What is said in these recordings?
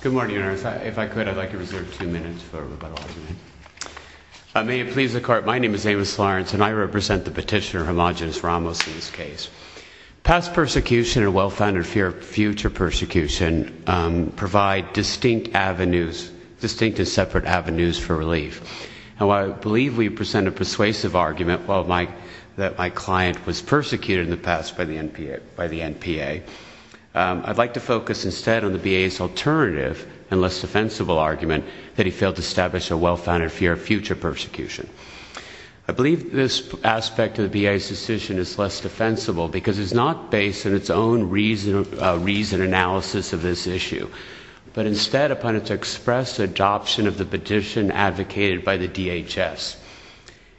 Good morning, Your Honor. If I could, I'd like to reserve two minutes for rebuttal argument. May it please the Court, my name is Amos Lawrence and I represent the petitioner, Homogeneous Ramos, in this case. Past persecution and well-founded fear of future persecution provide distinct avenues, distinct and separate avenues for relief. Now, I believe we present a persuasive argument that my client was persecuted in the past by the and less defensible argument that he failed to establish a well-founded fear of future persecution. I believe this aspect of the BIA's decision is less defensible because it's not based in its own reason analysis of this issue, but instead upon its express adoption of the petition advocated by the DHS.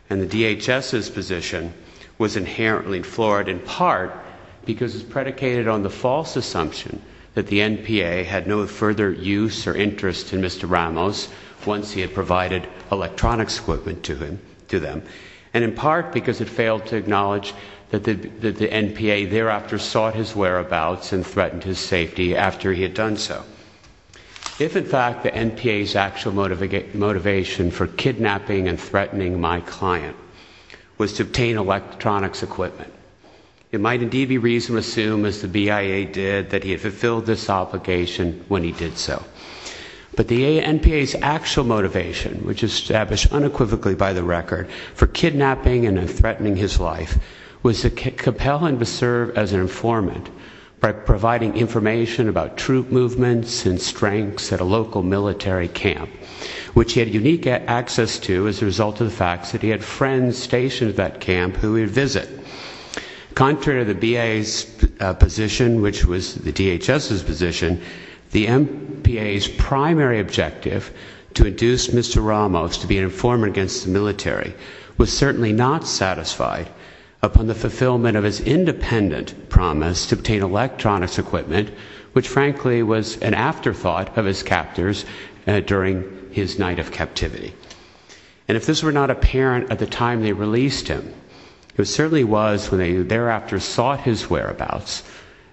And the DHS's position was inherently flawed in part because it's interest in Mr. Ramos once he had provided electronics equipment to them, and in part because it failed to acknowledge that the NPA thereafter sought his whereabouts and threatened his safety after he had done so. If, in fact, the NPA's actual motivation for kidnapping and threatening my client was to obtain electronics equipment, it might indeed be reasonable to assume as the BIA did that he had fulfilled this obligation when he did so. But the NPA's actual motivation, which established unequivocally by the record for kidnapping and threatening his life, was to compel him to serve as an informant by providing information about troop movements and strengths at a local military camp, which he had unique access to as a result of the fact that he had friends stationed at that camp who he would visit. Contrary to the BIA's position, which was the DHS's position, the NPA's primary objective to induce Mr. Ramos to be an informant against the military was certainly not satisfied upon the fulfillment of his independent promise to obtain electronics equipment, which frankly was an afterthought of his captors during his night of captivity. And if this were not apparent at the time they released him, it certainly was when they thereafter sought his whereabouts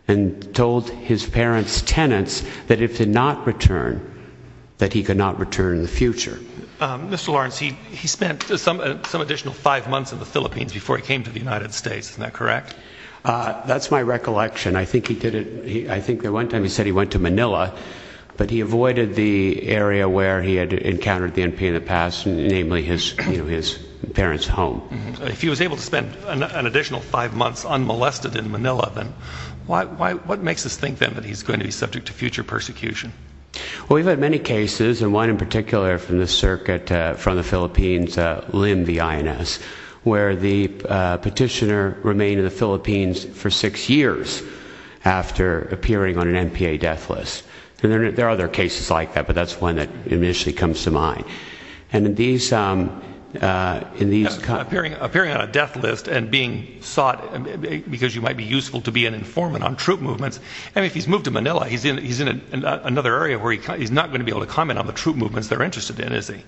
and told his parents' tenants that if he did not return, that he could not return in the future. Mr. Lawrence, he spent some additional five months in the Philippines before he came to the United States, isn't that correct? That's my recollection. I think he did it, I think the one time he said he went to Manila, but he avoided the area where he had encountered the NPA in the past, namely his parents' home. If he was able to spend an additional five months unmolested in Manila, then what makes us think then that he's going to be subject to future persecution? Well, we've had many cases, and one in particular from the circuit from the Philippines, Lim, the INS, where the petitioner remained in the Philippines for six years after appearing on an NPA death list. And there are other cases like that, but that's one that initially comes to mind. Appearing on a death list and being sought because you might be useful to be an informant on troop movements. And if he's moved to Manila, he's in another area where he's not going to be able to comment on the troop movements they're interested in, is he?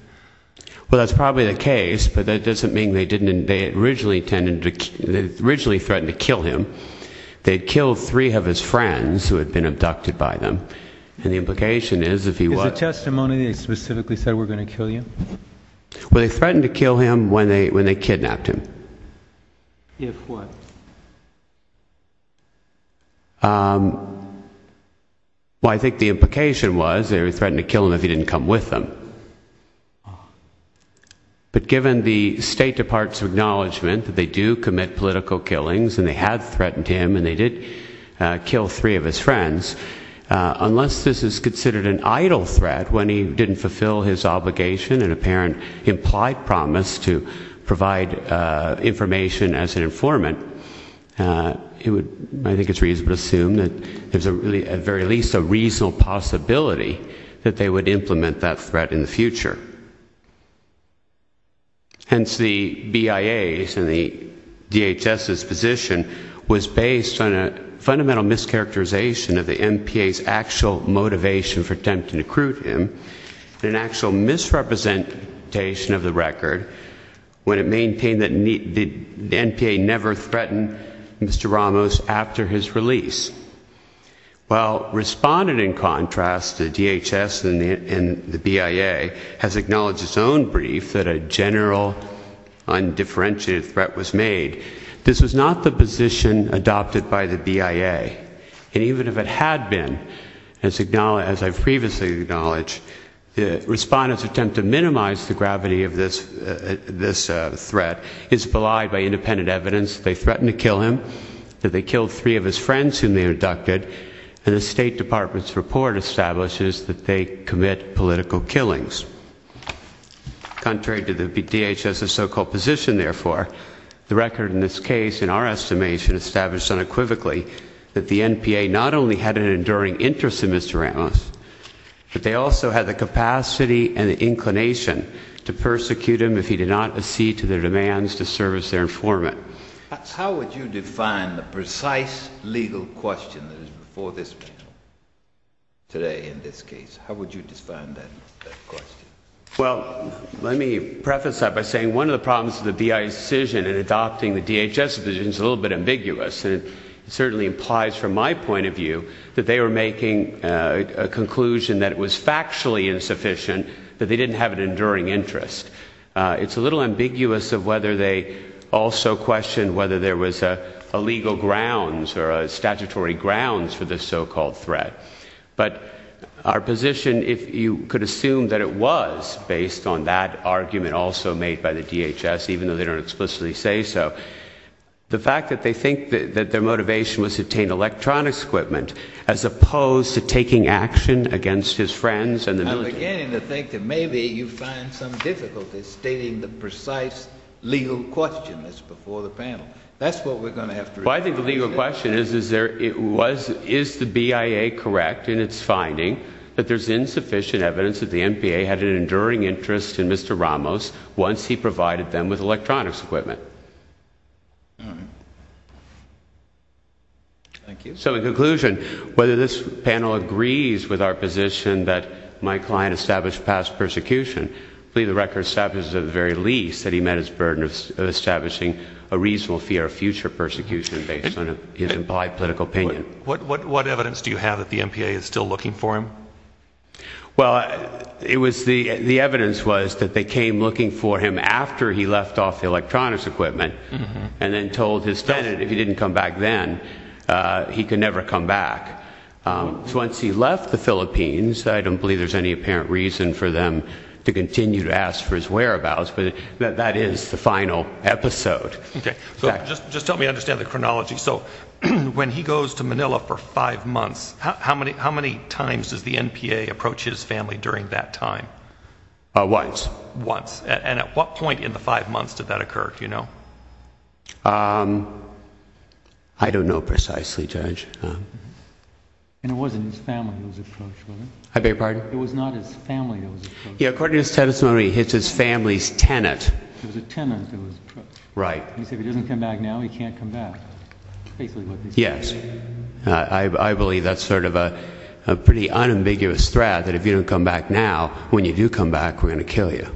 Well, that's probably the case, but that doesn't mean they didn't, they originally threatened to kill him. They'd killed three of his friends who had been abducted by them. And the implication is, if he were going to kill you? Well, they threatened to kill him when they kidnapped him. If what? Well, I think the implication was they threatened to kill him if he didn't come with them. But given the State Department's acknowledgement that they do commit political killings, and they had threatened him, and they did kill three of his friends, unless this is considered an idle threat when he didn't fulfill his obligation and apparent implied promise to provide information as an informant, I think it's reasonable to assume that there's a really, at very least, a reasonable possibility that they would implement that threat in the future. Hence, the BIA's and the DHS's position was based on a fundamental mischaracterization of the NPA's motivation for attempting to recruit him and an actual misrepresentation of the record when it maintained that the NPA never threatened Mr. Ramos after his release. While responded in contrast, the DHS and the BIA has acknowledged its own brief that a general undifferentiated threat was made. This was not the position adopted by the BIA, and even if it had been, as I've previously acknowledged, the respondent's attempt to minimize the gravity of this threat is belied by independent evidence that they threatened to kill him, that they killed three of his friends whom they abducted, and the State Department's report establishes that they commit political killings. Contrary to the DHS's so-called position, therefore, the record in this case, in our estimation, established unequivocally that the NPA not only had an enduring interest in Mr. Ramos, but they also had the capacity and the inclination to persecute him if he did not accede to their demands to serve as their informant. How would you define the precise legal question that is before this panel today in this case? How would you define that question? Well, let me preface that by saying one of the problems of the BIA's decision in adopting the DHS's position is a little bit ambiguous, and it certainly implies from my point of view that they were making a conclusion that it was factually insufficient, that they didn't have an enduring interest. It's a little ambiguous of whether they also questioned whether there was a legal grounds or a statutory grounds for this so-called threat, but our position, if you could assume that it was based on that argument also made by the DHS, even though they don't explicitly say so, the fact that they think that their motivation was to obtain electronics equipment as opposed to taking action against his friends and the military. I'm beginning to think that maybe you find some difficulties stating the precise legal question that's before the panel. That's what we're going to have to respond to. Well, I think the legal question is, is the BIA correct in its finding that there's insufficient evidence that the NPA had an enduring interest in Mr. Ramos once he provided them with electronics equipment? Thank you. So in conclusion, whether this panel agrees with our position that my client established past persecution, I believe the record establishes at the very least that he met his burden of establishing a reasonable fear of future persecution based on his implied political opinion. What evidence do you have that the NPA is still looking for him? Well, it was the the evidence was that they came looking for him after he left off the electronics equipment and then told his student if he didn't come back then, he could never come back. So once he left the Philippines, I don't believe there's any apparent reason for them to continue to ask for his whereabouts, but that is the final episode. Okay, so just just help me understand the chronology. So when he goes to Manila for five months, how many times does the NPA approach his family during that time? Once. Once. And at what point in the five months did that occur, do you know? I don't know precisely, Judge. And it wasn't his family who was approached, was it? I beg your pardon? It was not his family that was approached. Yeah, according to his testimony, it's his family's tenant. It was a tenant. Right. He said if he doesn't come back now, he can't come back. Yes, I believe that's sort of a pretty unambiguous threat that if you don't come back now, when you do come back, we're going to kill you.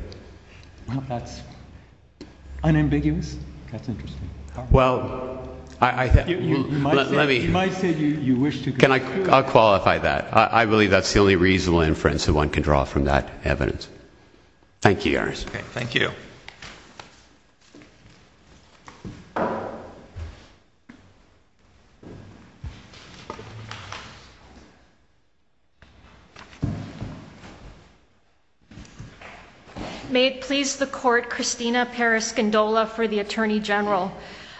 Well, that's unambiguous. That's interesting. Well, you might say you wish to... I'll qualify that. I believe that's the only reasonable inference that one can draw from that evidence. Thank you, Your Honor. Okay, thank you. May it please the Court, Christina Paras-Gondola for the Attorney General.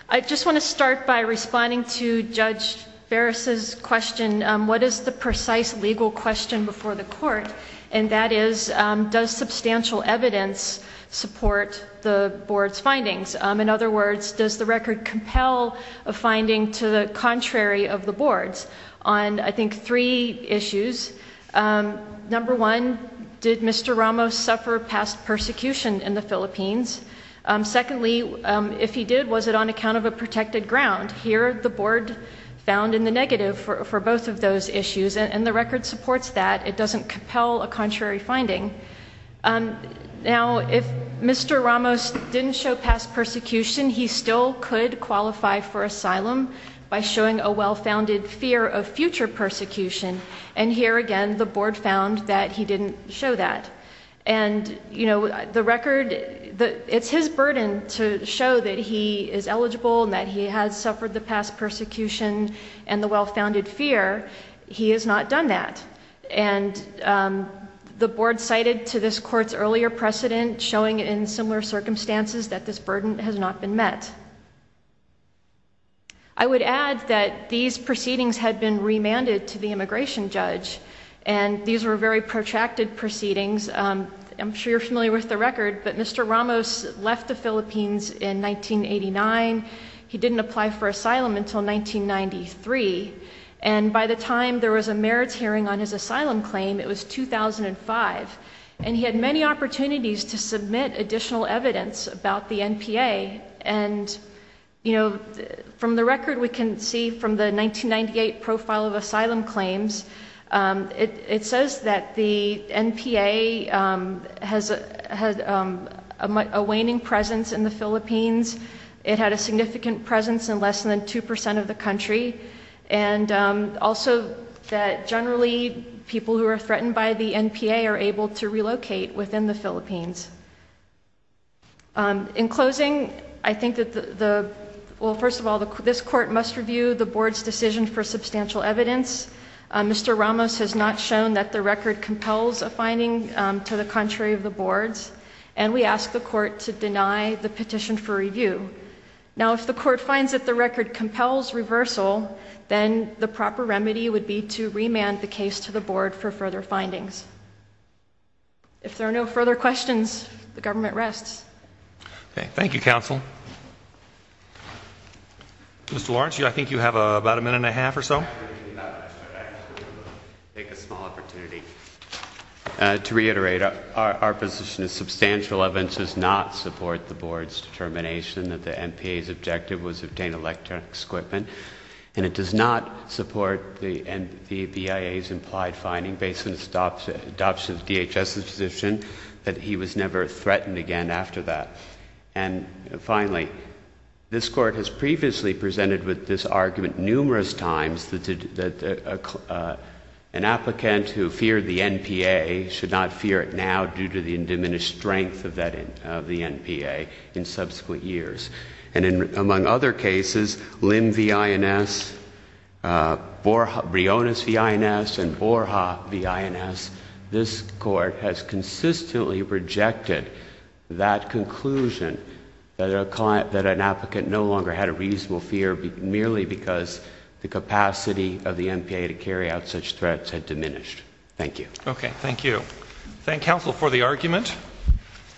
I just want to start by responding to Judge Ferris's question. What is the precise legal question before the Court? And that is, does substantial evidence support the Board's findings? In other words, does the record compel a finding to the contrary of the Board's on, I think, three issues? Number one, did Mr. Ramos suffer past persecution in the Philippines? Secondly, if he did, was it on account of a protected ground? Here, the Board found in the negative for both of those issues. And the record supports that. It doesn't compel a contrary finding. Now, if Mr. Ramos didn't show past persecution, he still could qualify for asylum by showing a well-founded fear of future persecution. And here again, the Board found that he didn't show that. And, you know, the record, it's his burden to show that he is eligible and that he has suffered the past persecution and the well-founded fear. He has not done that. And the Board cited to this Court's earlier precedent showing in similar circumstances that this burden has not been met. I would add that these proceedings had been remanded to the immigration judge, and these were very protracted proceedings. I'm sure you're familiar with the record, but Mr. Ramos did not show asylum until 1993. And by the time there was a merits hearing on his asylum claim, it was 2005. And he had many opportunities to submit additional evidence about the NPA. And, you know, from the record, we can see from the 1998 profile of asylum claims, it says that the NPA has a waning presence in the Philippines. It had a significant presence in less than 2% of the country. And also that generally people who are threatened by the NPA are able to relocate within the Philippines. In closing, I think that the, well, first of all, this Court must review the Board's decision for substantial evidence. Mr. Ramos has not shown that the record compels a finding to the contrary of the Board's. And we ask the Court to deny the record compels reversal, then the proper remedy would be to remand the case to the Board for further findings. If there are no further questions, the government rests. Okay. Thank you, counsel. Mr. Lawrence, I think you have about a minute and a half or so. To reiterate, our position is substantial evidence does not support the Board's determination that the NPA's objective was to obtain electronic equipment, and it does not support the BIA's implied finding based on its adoption of the DHS's position that he was never threatened again after that. And finally, this Court has previously presented with this argument numerous times that an applicant who feared the NPA should not fear it now due to the diminished strength of the NPA in subsequent years. And among other cases, Lim v. INS, Briones v. INS, and Borja v. INS, this Court has consistently rejected that conclusion that an applicant no longer had a reasonable fear merely because the capacity of the NPA to carry out such threats had diminished. Thank you. Okay. Thank you. Thank counsel for the argument.